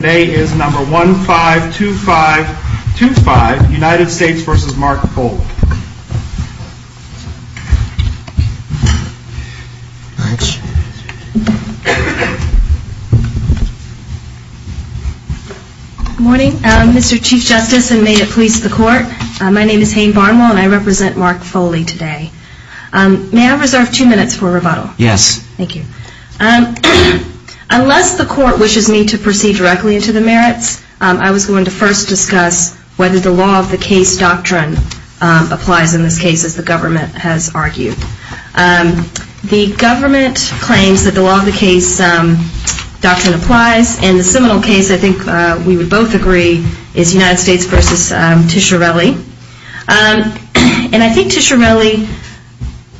Today is number 152525 United States v. Mark Foley. Good morning Mr. Chief Justice and may it please the court. My name is Hayne Barnwell and I represent Mark Foley today. May I reserve two minutes for rebuttal? Yes. Thank you. Unless the court wishes me to proceed directly into the merits, I was going to first discuss whether the law of the case doctrine applies in this case as the government has argued. The government claims that the law of the case doctrine applies and the seminal case I think we would both agree is United States v. Tishorelli. And I think Tishorelli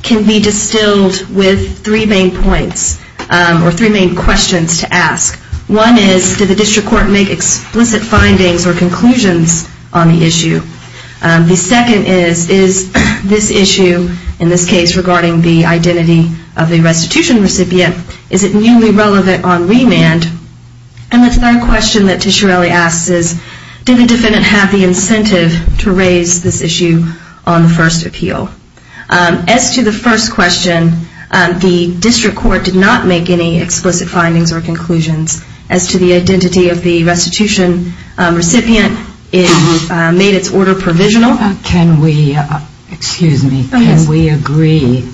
can be distilled with three main points or three main questions to ask. One is, did the district court make explicit findings or conclusions on the issue? The second is, is this issue in this case regarding the identity of the restitution recipient, is it newly relevant on remand? And the third question that Tishorelli asks is, did the defendant have the incentive to raise this issue on the first appeal? As to the first question, the district court did not make any explicit findings or conclusions as to the identity of the restitution recipient. It made its order provisional. Can we, excuse me, can we agree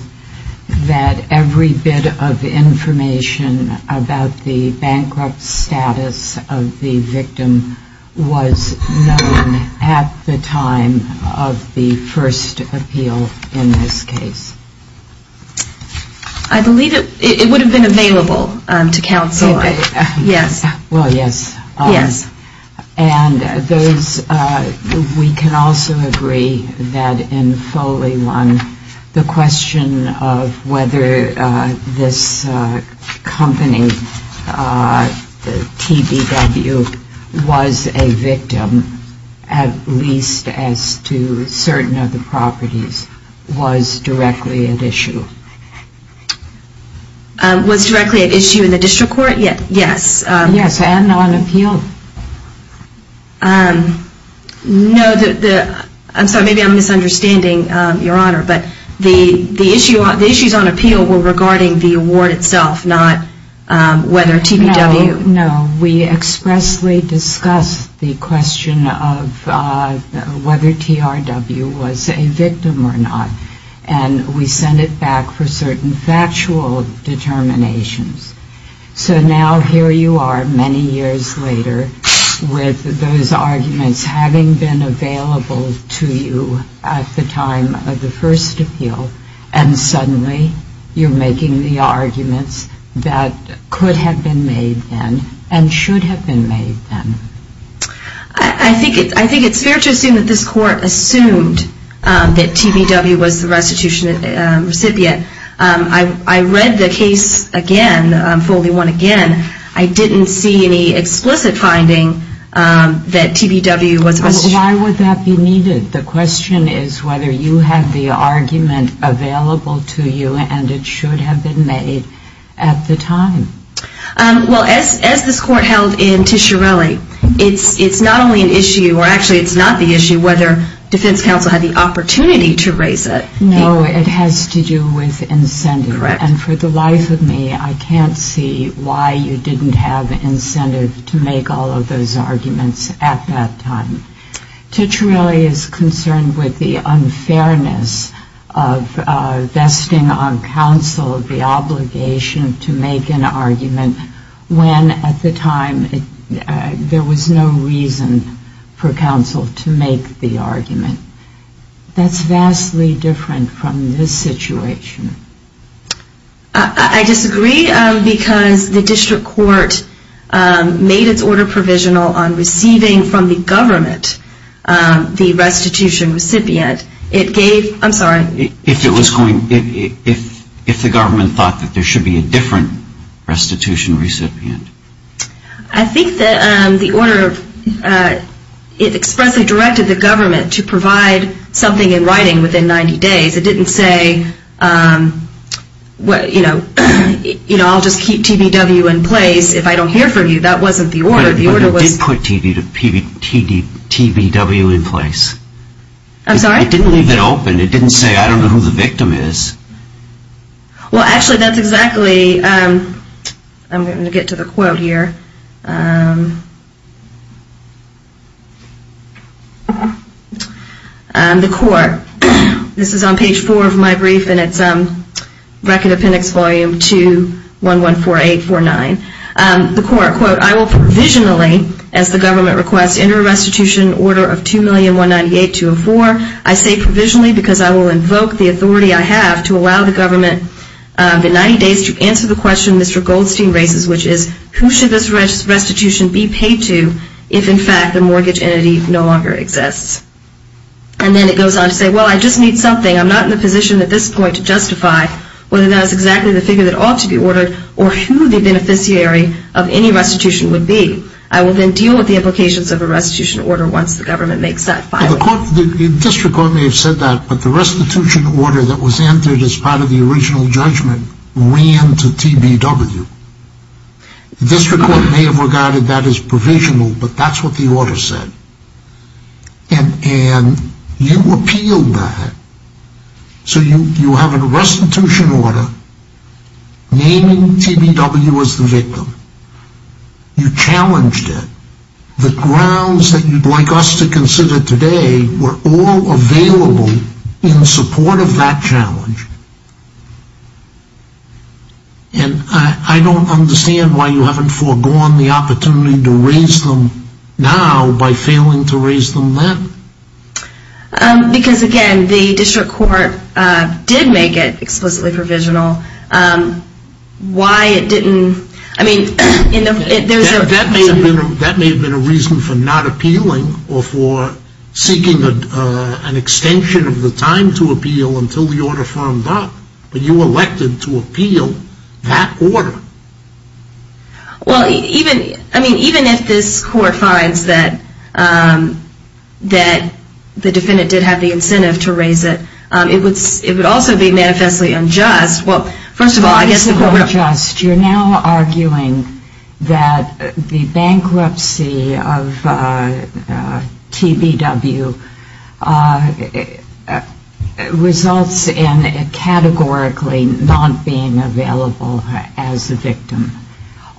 that every bit of information about the bankrupt status of the victim was known at the time of the first appeal in this case? I believe it would have been available to counsel, yes. Well, yes. And those, we can also agree that in Foley 1, the question of whether this company, TBW, was a victim, at least as to certain of the properties, was directly at issue? Was directly at issue in the district court? Yes. Yes, and on appeal. No, the, I'm sorry, maybe I'm misunderstanding, Your Honor, but the issues on appeal were regarding the award itself, not whether TBW. No, we expressly discussed the question of whether TRW was a victim or not, and we sent it back for certain factual determinations. So now here you are, many years later, with those arguments having been available to you at the time of the first appeal, and suddenly you're making the arguments that could have been made then and should have been made then. I think it's fair to assume that this court assumed that TBW was the restitution recipient. I read the case again, Foley 1 again, I didn't see any explicit finding that TBW was a restitution. But why would that be needed? The question is whether you have the argument available to you, and it should have been made at the time. Well, as this court held in Tishorelli, it's not only an issue, or actually it's not the issue, whether defense counsel had the opportunity to raise it. No, it has to do with incentive. Correct. And for the life of me, I can't see why you didn't have incentive to make all of those arguments at the time. Tishorelli is concerned with the unfairness of vesting on counsel the obligation to make an argument when at the time there was no reason for counsel to make the argument. That's vastly different from this situation. I disagree, because the district court made its order provisional on receiving from the government the restitution recipient. It gave, I'm sorry. If it was going, if the government thought that there should be a different restitution recipient. I think that the order, it expressly directed the government to provide something in writing within 90 days. It didn't say, you know, I'll just keep TBW in place if I don't hear from you. That wasn't the order. But it did put TBW in place. I'm sorry? It didn't leave it open. It didn't say, I don't know who the victim is. Well, actually, that's exactly, I'm going to get to the quote here. The court, this is on page 4 of my brief and it's record appendix volume 2114849. The court, quote, I will provisionally, as the government requests, enter a restitution order of 2,198,204. I say provisionally because I will invoke the authority I have to allow the government in 90 days to answer the question Mr. Goldstein raises, which is, who should this restitution be paid to if, in fact, the mortgage entity no longer exists? And then it goes on to say, well, I just need something. I'm not in the position that this is going to justify whether that is exactly the figure that ought to be ordered or who the beneficiary of any restitution would be. I will then deal with the implications of a restitution order once the government makes that filing. The district court may have said that, but the restitution order that was entered as part of the original judgment ran to TBW. The district court may have regarded that as provisional, but that's what the order said. And you appealed that. So you have a restitution order naming TBW as the victim. You challenged it. The grounds that you'd like us to consider today were all available in support of that challenge. And I don't understand why you haven't foregone the opportunity to raise them now by failing to raise them then. Because, again, the district court did make it explicitly provisional. Why it didn't... That may have been a reason for not appealing or for seeking an extension of the time to appeal until the order firmed up. But you elected to appeal that order. Well, even if this court finds that the defendant did have the incentive to raise it, it would also be manifestly unjust. You're now arguing that the bankruptcy of TBW results in it categorically not being available as the victim.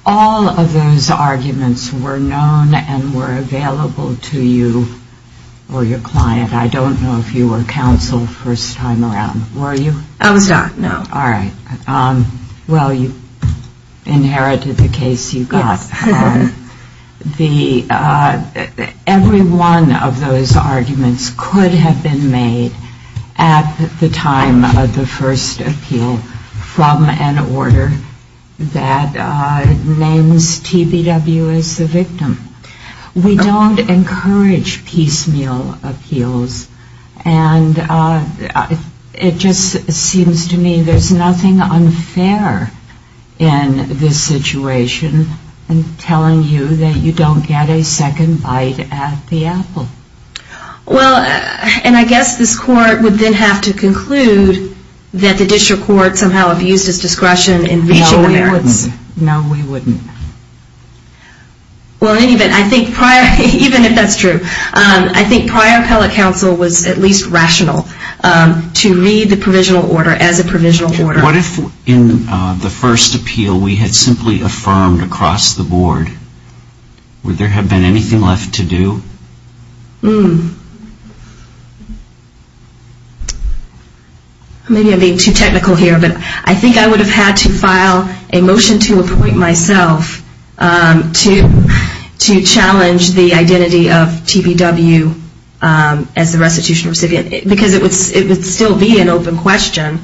All of those arguments were known and were available to you or your client. I don't know if you were counsel the first time around. Were you? I was not, no. All right. Well, you inherited the case you got. Yes. Every one of those arguments could have been made at the time of the first appeal from an order that names TBW as the victim. We don't encourage piecemeal appeals. And it just seems to me there's nothing unfair in this situation in telling you that you don't get a second bite at the apple. Well, and I guess this court would then have to conclude that the district court somehow abused its discretion in reaching the merits. No, we wouldn't. Well, in any event, I think prior, even if that's true, I think prior appellate counsel was at least rational to read the provisional order as a provisional order. What if in the first appeal we had simply affirmed across the board? Would there have been anything left to do? Maybe I'm being too technical here. But I think I would have had to file a motion to appoint myself to challenge the identity of TBW as the restitution recipient because it would still be an open question,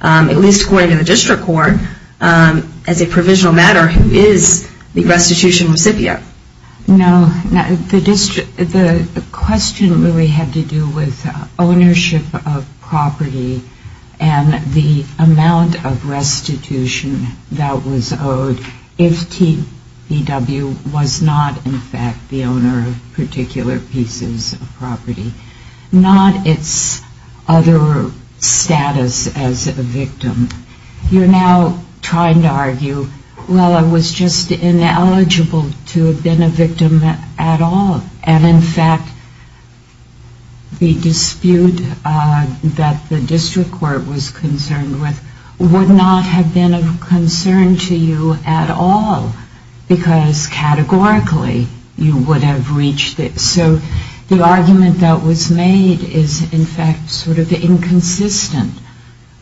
at least according to the district court, as a provisional matter, who is the restitution recipient. No, the question really had to do with ownership of property and the amount of restitution that was owed if TBW was not in fact the owner of particular pieces of property, not its You're now trying to argue, well, I was just ineligible to have been a victim at all. And in fact, the dispute that the district court was concerned with would not have been of concern to you at all because categorically you would have reached it. So the argument that was made is in fact sort of inconsistent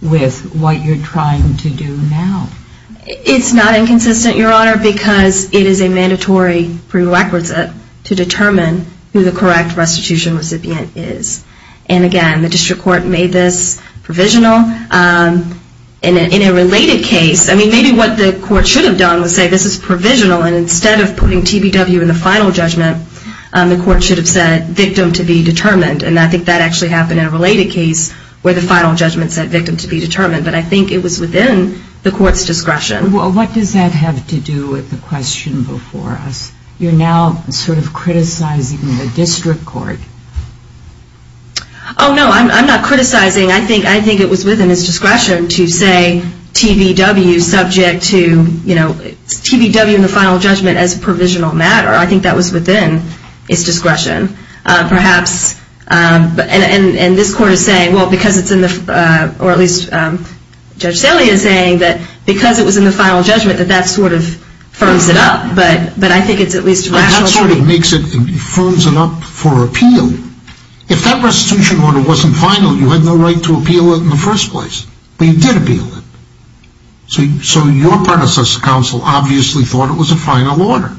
with what you're trying to do now. It's not inconsistent, Your Honor, because it is a mandatory prerequisite to determine who the correct restitution recipient is. And again, the district court made this provisional. In a related case, I mean, maybe what the court should have done was say this is provisional and instead of putting TBW in the final judgment, the court should have said victim to be determined. And I think that actually happened in a related case where the final judgment said victim to be determined. But I think it was within the court's discretion. Well, what does that have to do with the question before us? You're now sort of criticizing the district court. Oh, no, I'm not criticizing. I think it was within its discretion to say TBW subject to, you know, TBW in the final judgment as a provisional matter. I think that was within its discretion, perhaps. And this court is saying, well, because it's in the, or at least Judge Saley is saying that because it was in the final judgment that that sort of firms it up. But I think it's at least rational. That sort of makes it, firms it up for appeal. If that restitution order wasn't final, you had no right to appeal it in the first place. But you did appeal it. So your predecessor counsel obviously thought it was a final order.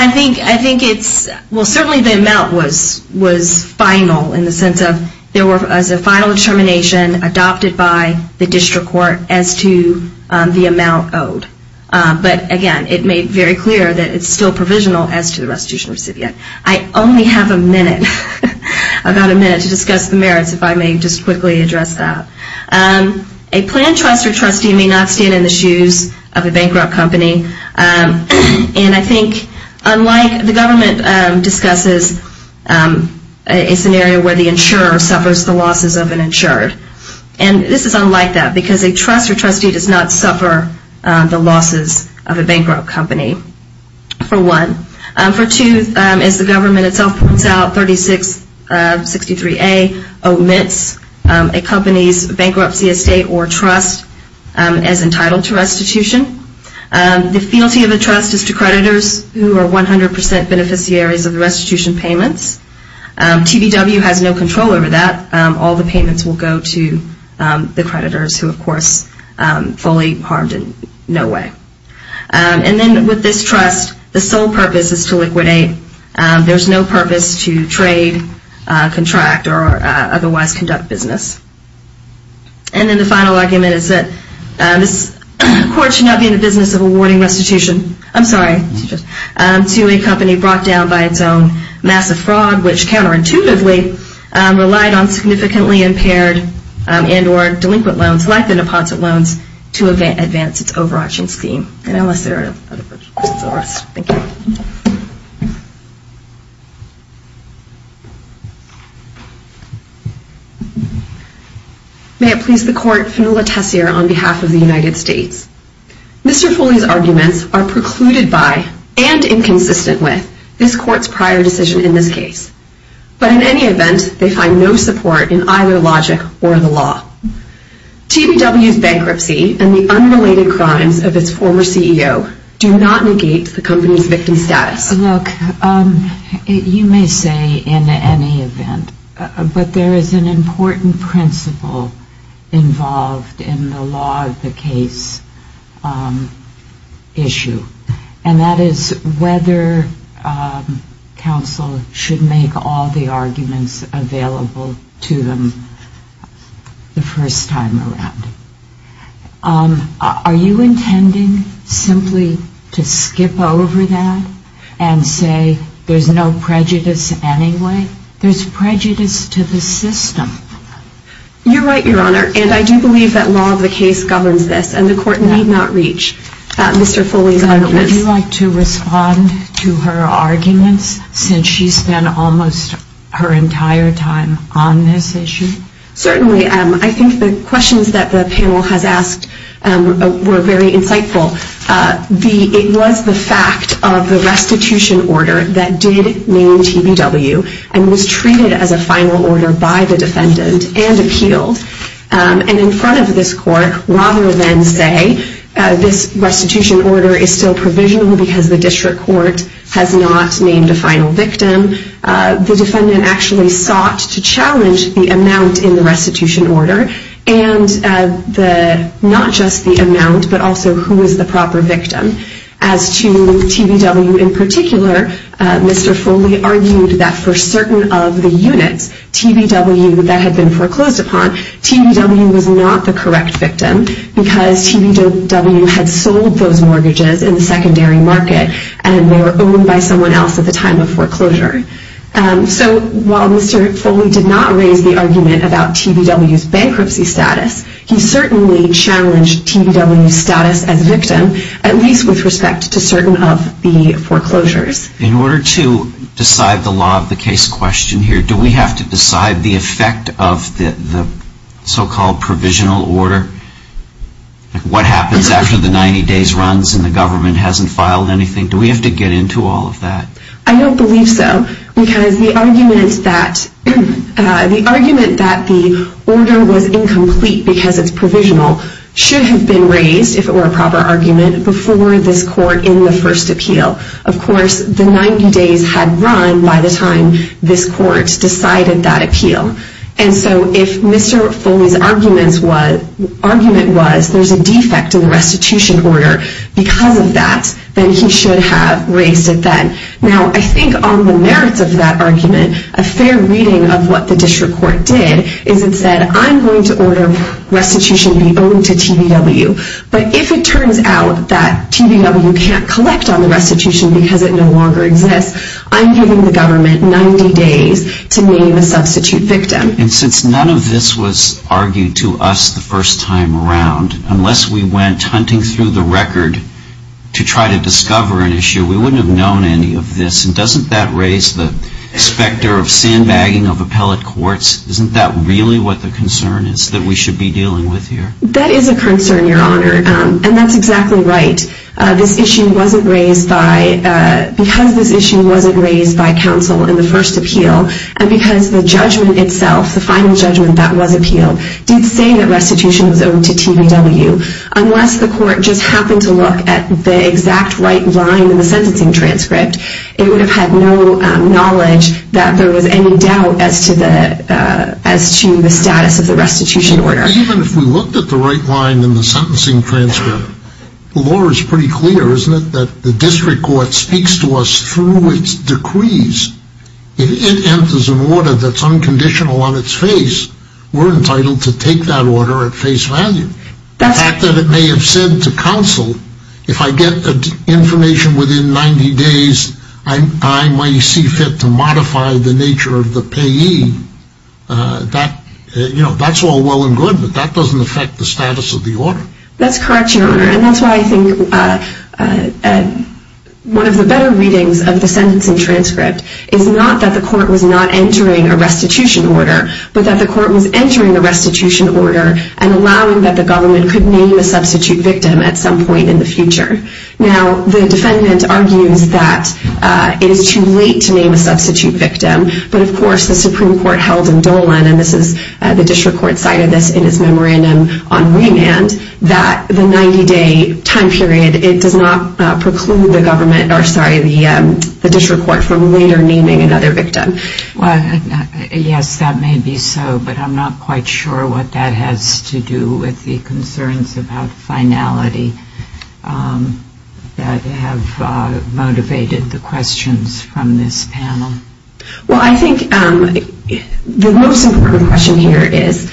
I think it's, well, certainly the amount was final in the sense of there was a final determination adopted by the district court as to the amount owed. But, again, it made very clear that it's still provisional as to the restitution recipient. I only have a minute, about a minute, to discuss the merits if I may just quickly address that. A planned trust or trustee may not stand in the shoes of a bankrupt company. And I think unlike, the government discusses a scenario where the insurer suffers the losses of an insured. And this is unlike that because a trust or trustee does not suffer the losses of a bankrupt company, for one. For two, as the government itself points out, 3663A omits a company's bankruptcy estate or trust as entitled to restitution. The fealty of a trust is to creditors who are 100% beneficiaries of the restitution payments. TVW has no control over that. All the payments will go to the creditors who, of course, fully harmed in no way. And then with this trust, the sole purpose is to liquidate. There's no purpose to trade, contract, or otherwise conduct business. And then the final argument is that this court should not be in the business of awarding restitution, I'm sorry, to a company brought down by its own massive fraud, which counterintuitively relied on significantly impaired and or delinquent loans, like the deposit loans, to advance its overarching scheme. And unless there are other questions, I'll rest. Thank you. May it please the court, Fanula Tessier on behalf of the United States. Mr. Foley's arguments are precluded by, and inconsistent with, this court's prior decision in this case. But in any event, they find no support in either logic or the law. TVW's bankruptcy and the unrelated crimes of its former CEO do not negate the company's victim status. Look, you may say in any event, but there is an important principle involved in the law of the case issue. And that is whether counsel should make all the arguments available to them the first time around. Are you intending simply to skip over that and say there's no prejudice anyway? There's prejudice to the system. You're right, Your Honor. And I do believe that law of the case governs this. And the court need not reach Mr. Foley's arguments. Would you like to respond to her arguments since she spent almost her entire time on this issue? Certainly. I think the questions that the panel has asked were very insightful. It was the fact of the restitution order that did name TVW and was treated as a final order by the defendant and appealed. And in front of this court, rather than say this restitution order is still provisional because the district court has not named a final victim, the defendant actually sought to challenge the amount in the restitution order and not just the amount but also who is the proper victim. As to TVW in particular, Mr. Foley argued that for certain of the units, TVW that had been foreclosed upon, TVW was not the correct victim because TVW had sold those mortgages in the secondary market and they were owned by someone else at the time of foreclosure. So while Mr. Foley did not raise the argument about TVW's bankruptcy status, he certainly challenged TVW's status as a victim, at least with respect to certain of the foreclosures. In order to decide the law of the case question here, do we have to decide the effect of the so-called provisional order? What happens after the 90 days runs and the government hasn't filed anything? Do we have to get into all of that? I don't believe so because the argument that the order was incomplete because it's provisional should have been raised, if it were a proper argument, before this court in the first appeal. Of course, the 90 days had run by the time this court decided that appeal. And so if Mr. Foley's argument was there's a defect in the restitution order because of that, then he should have raised it then. Now, I think on the merits of that argument, a fair reading of what the district court did is it said, I'm going to order restitution be owed to TVW. But if it turns out that TVW can't collect on the restitution because it no longer exists, I'm giving the government 90 days to name a substitute victim. And since none of this was argued to us the first time around, unless we went hunting through the record to try to discover an issue, we wouldn't have known any of this. And doesn't that raise the specter of sandbagging of appellate courts? Isn't that really what the concern is that we should be dealing with here? That is a concern, Your Honor. And that's exactly right. This issue wasn't raised by, because this issue wasn't raised by counsel in the first appeal, and because the judgment itself, the final judgment that was appealed, did say that restitution was owed to TVW. Unless the court just happened to look at the exact right line in the sentencing transcript, it would have had no knowledge that there was any doubt as to the status of the restitution order. Even if we looked at the right line in the sentencing transcript, the law is pretty clear, isn't it, that the district court speaks to us through its decrees. If it enters an order that's unconditional on its face, we're entitled to take that order at face value. The fact that it may have said to counsel, if I get information within 90 days, I might see fit to modify the nature of the payee, that's all well and good, but that doesn't affect the status of the order. That's correct, Your Honor. And that's why I think one of the better readings of the sentencing transcript is not that the court was not entering a restitution order, but that the court was entering a restitution order and allowing that the government could name a substitute victim at some point in the future. Now, the defendant argues that it is too late to name a substitute victim, but of course the Supreme Court held in Dolan, and the district court cited this in its memorandum on remand, that the 90-day time period, it does not preclude the district court from later naming another victim. Well, yes, that may be so, but I'm not quite sure what that has to do with the concerns about finality that have motivated the questions from this panel. Well, I think the most important question here is,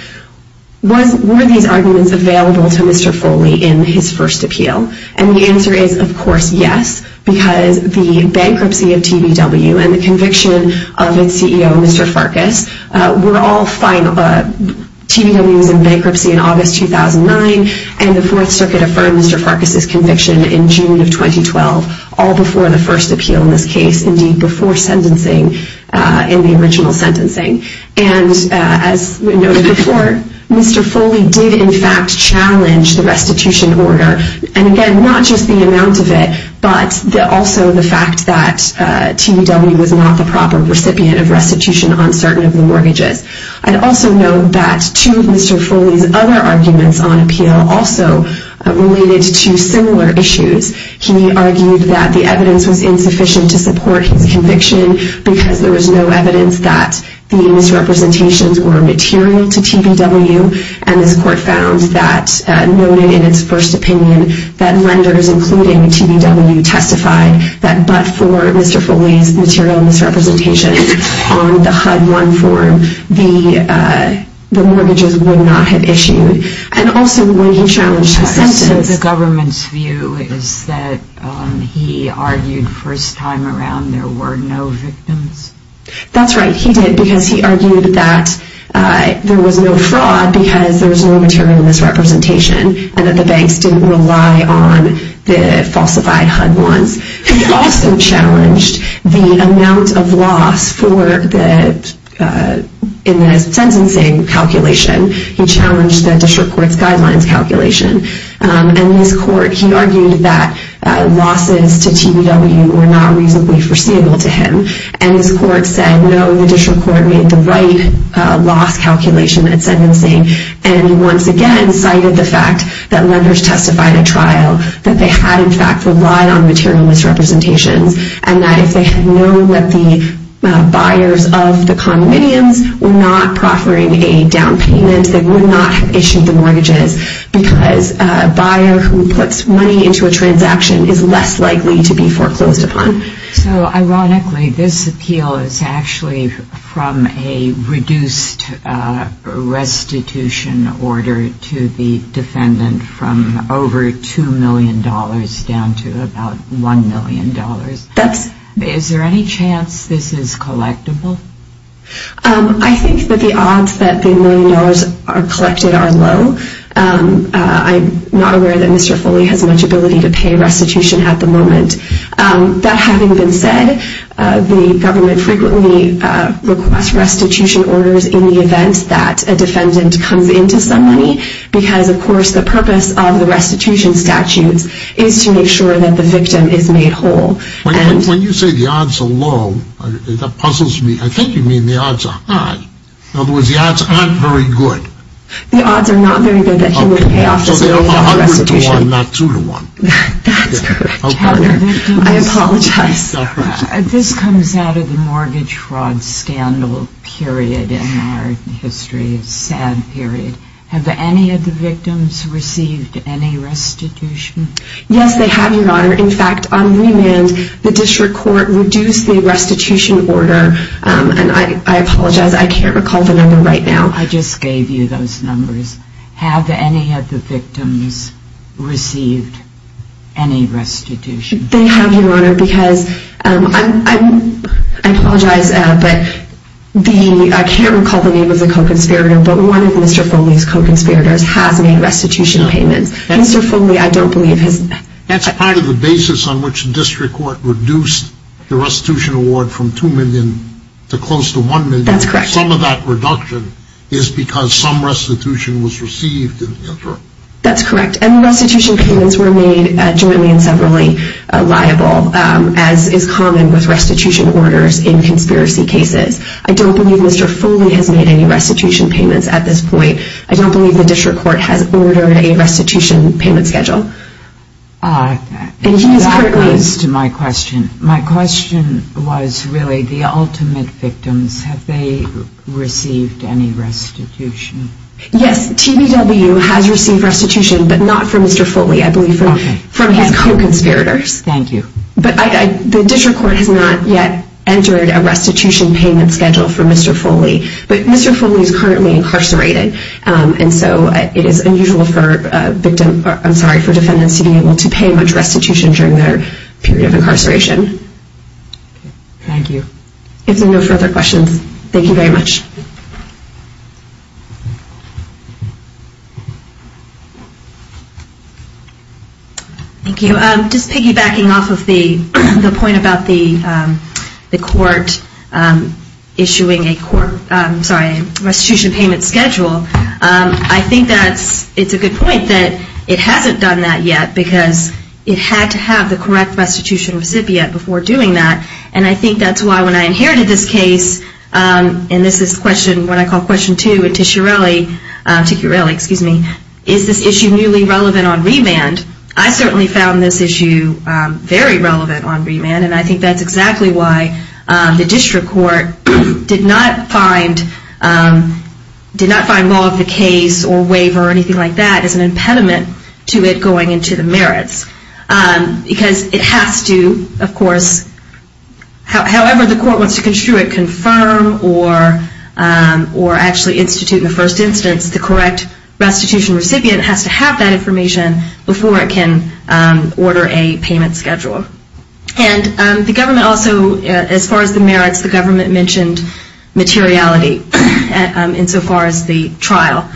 were these arguments available to Mr. Foley in his first appeal? And the answer is, of course, yes, because the bankruptcy of TBW and the conviction of its CEO, Mr. Farkas, were all final. TBW was in bankruptcy in August 2009, and the Fourth Circuit affirmed Mr. Farkas' conviction in June of 2012, all before the first appeal in this case, indeed before sentencing in the original sentencing. And as noted before, Mr. Foley did in fact challenge the restitution order, and again, not just the amount of it, but also the fact that TBW was not the proper recipient of restitution on certain of the mortgages. I'd also note that two of Mr. Foley's other arguments on appeal also related to similar issues. He argued that the evidence was insufficient to support his conviction because there was no evidence that the misrepresentations were material to TBW, and this court found that, noted in its first opinion, that lenders, including TBW, testified that but for Mr. Foley's material misrepresentations on the HUD-1 form, the mortgages would not have issued. And also when he challenged his sentence... So the government's view is that he argued first time around there were no victims? That's right. He did because he argued that there was no fraud because there was no material misrepresentation and that the banks didn't rely on the falsified HUD-1s. He also challenged the amount of loss in the sentencing calculation. He challenged the district court's guidelines calculation. And in his court, he argued that losses to TBW were not reasonably foreseeable to him. And his court said, no, the district court made the right loss calculation at sentencing. And he once again cited the fact that lenders testified at trial that they had in fact relied on material misrepresentations and that if they had known that the buyers of the condominiums were not proffering a down payment, they would not have issued the mortgages because a buyer who puts money into a transaction is less likely to be foreclosed upon. So ironically, this appeal is actually from a reduced restitution order to the defendant from over $2 million down to about $1 million. Is there any chance this is collectible? I think that the odds that the million dollars are collected are low. I'm not aware that Mr. Foley has much ability to pay restitution at the moment. That having been said, the government frequently requests restitution orders in the event that a defendant comes into some money because, of course, the purpose of the restitution statutes is to make sure that the victim is made whole. When you say the odds are low, that puzzles me. I think you mean the odds are high. In other words, the odds aren't very good. The odds are not very good that he will pay off his restitution. Okay, so they're 100 to 1, not 2 to 1. That's correct, Your Honor. I apologize. This comes out of the mortgage fraud scandal period in our history, a sad period. Have any of the victims received any restitution? Yes, they have, Your Honor. In fact, on remand, the district court reduced the restitution order, and I apologize, I can't recall the number right now. I just gave you those numbers. Have any of the victims received any restitution? They have, Your Honor, because I apologize, but I can't recall the name of the co-conspirator, but one of Mr. Foley's co-conspirators has made restitution payments. Mr. Foley, I don't believe has. That's part of the basis on which the district court reduced the restitution award from $2 million to close to $1 million. That's correct. Some of that reduction is because some restitution was received in the interim. That's correct, and restitution payments were made jointly and severally liable, as is common with restitution orders in conspiracy cases. I don't believe Mr. Foley has made any restitution payments at this point. I don't believe the district court has ordered a restitution payment schedule. That leads to my question. My question was really the ultimate victims. Have they received any restitution? Yes, TBW has received restitution, but not from Mr. Foley. I believe from his co-conspirators. Thank you. The district court has not yet entered a restitution payment schedule for Mr. Foley, but Mr. Foley is currently incarcerated, and so it is unusual for defendants to be able to pay much restitution during their period of incarceration. Thank you. If there are no further questions, thank you very much. Thank you. Just piggybacking off of the point about the court issuing a restitution payment schedule, I think it's a good point that it hasn't done that yet because it had to have the correct restitution recipient before doing that, and I think that's why when I inherited this case, and this is what I call question two to Chiarelli, is this issue newly relevant on remand? I certainly found this issue very relevant on remand, and I think that's exactly why the district court did not find law of the case or waiver or anything like that as an impediment to it going into the merits because it has to, of course, however the court wants to construe it, confirm or actually institute in the first instance the correct restitution recipient has to have that information before it can order a payment schedule. And the government also, as far as the merits, the government mentioned materiality insofar as the trial.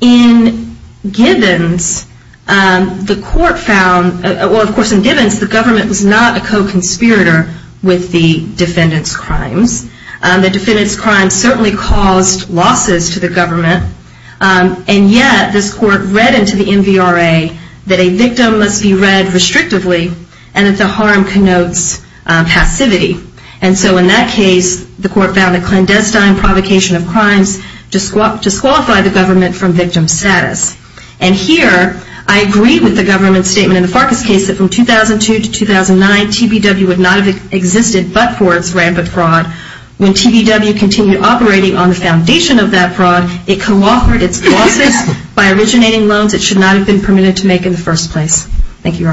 In Gibbons, the court found, or of course in Gibbons, the government was not a co-conspirator with the defendant's crimes. The defendant's crimes certainly caused losses to the government, and yet this court read into the MVRA that a victim must be read restrictively and that the harm connotes passivity. And so in that case, the court found a clandestine provocation of crimes disqualified the government from victim status. And here I agree with the government's statement in the Farkas case that from 2002 to 2009, TBW would not have existed but for its rampant fraud. When TBW continued operating on the foundation of that fraud, it co-authored its losses by originating loans that should not have been permitted to make in the first place. Thank you, Your Honors.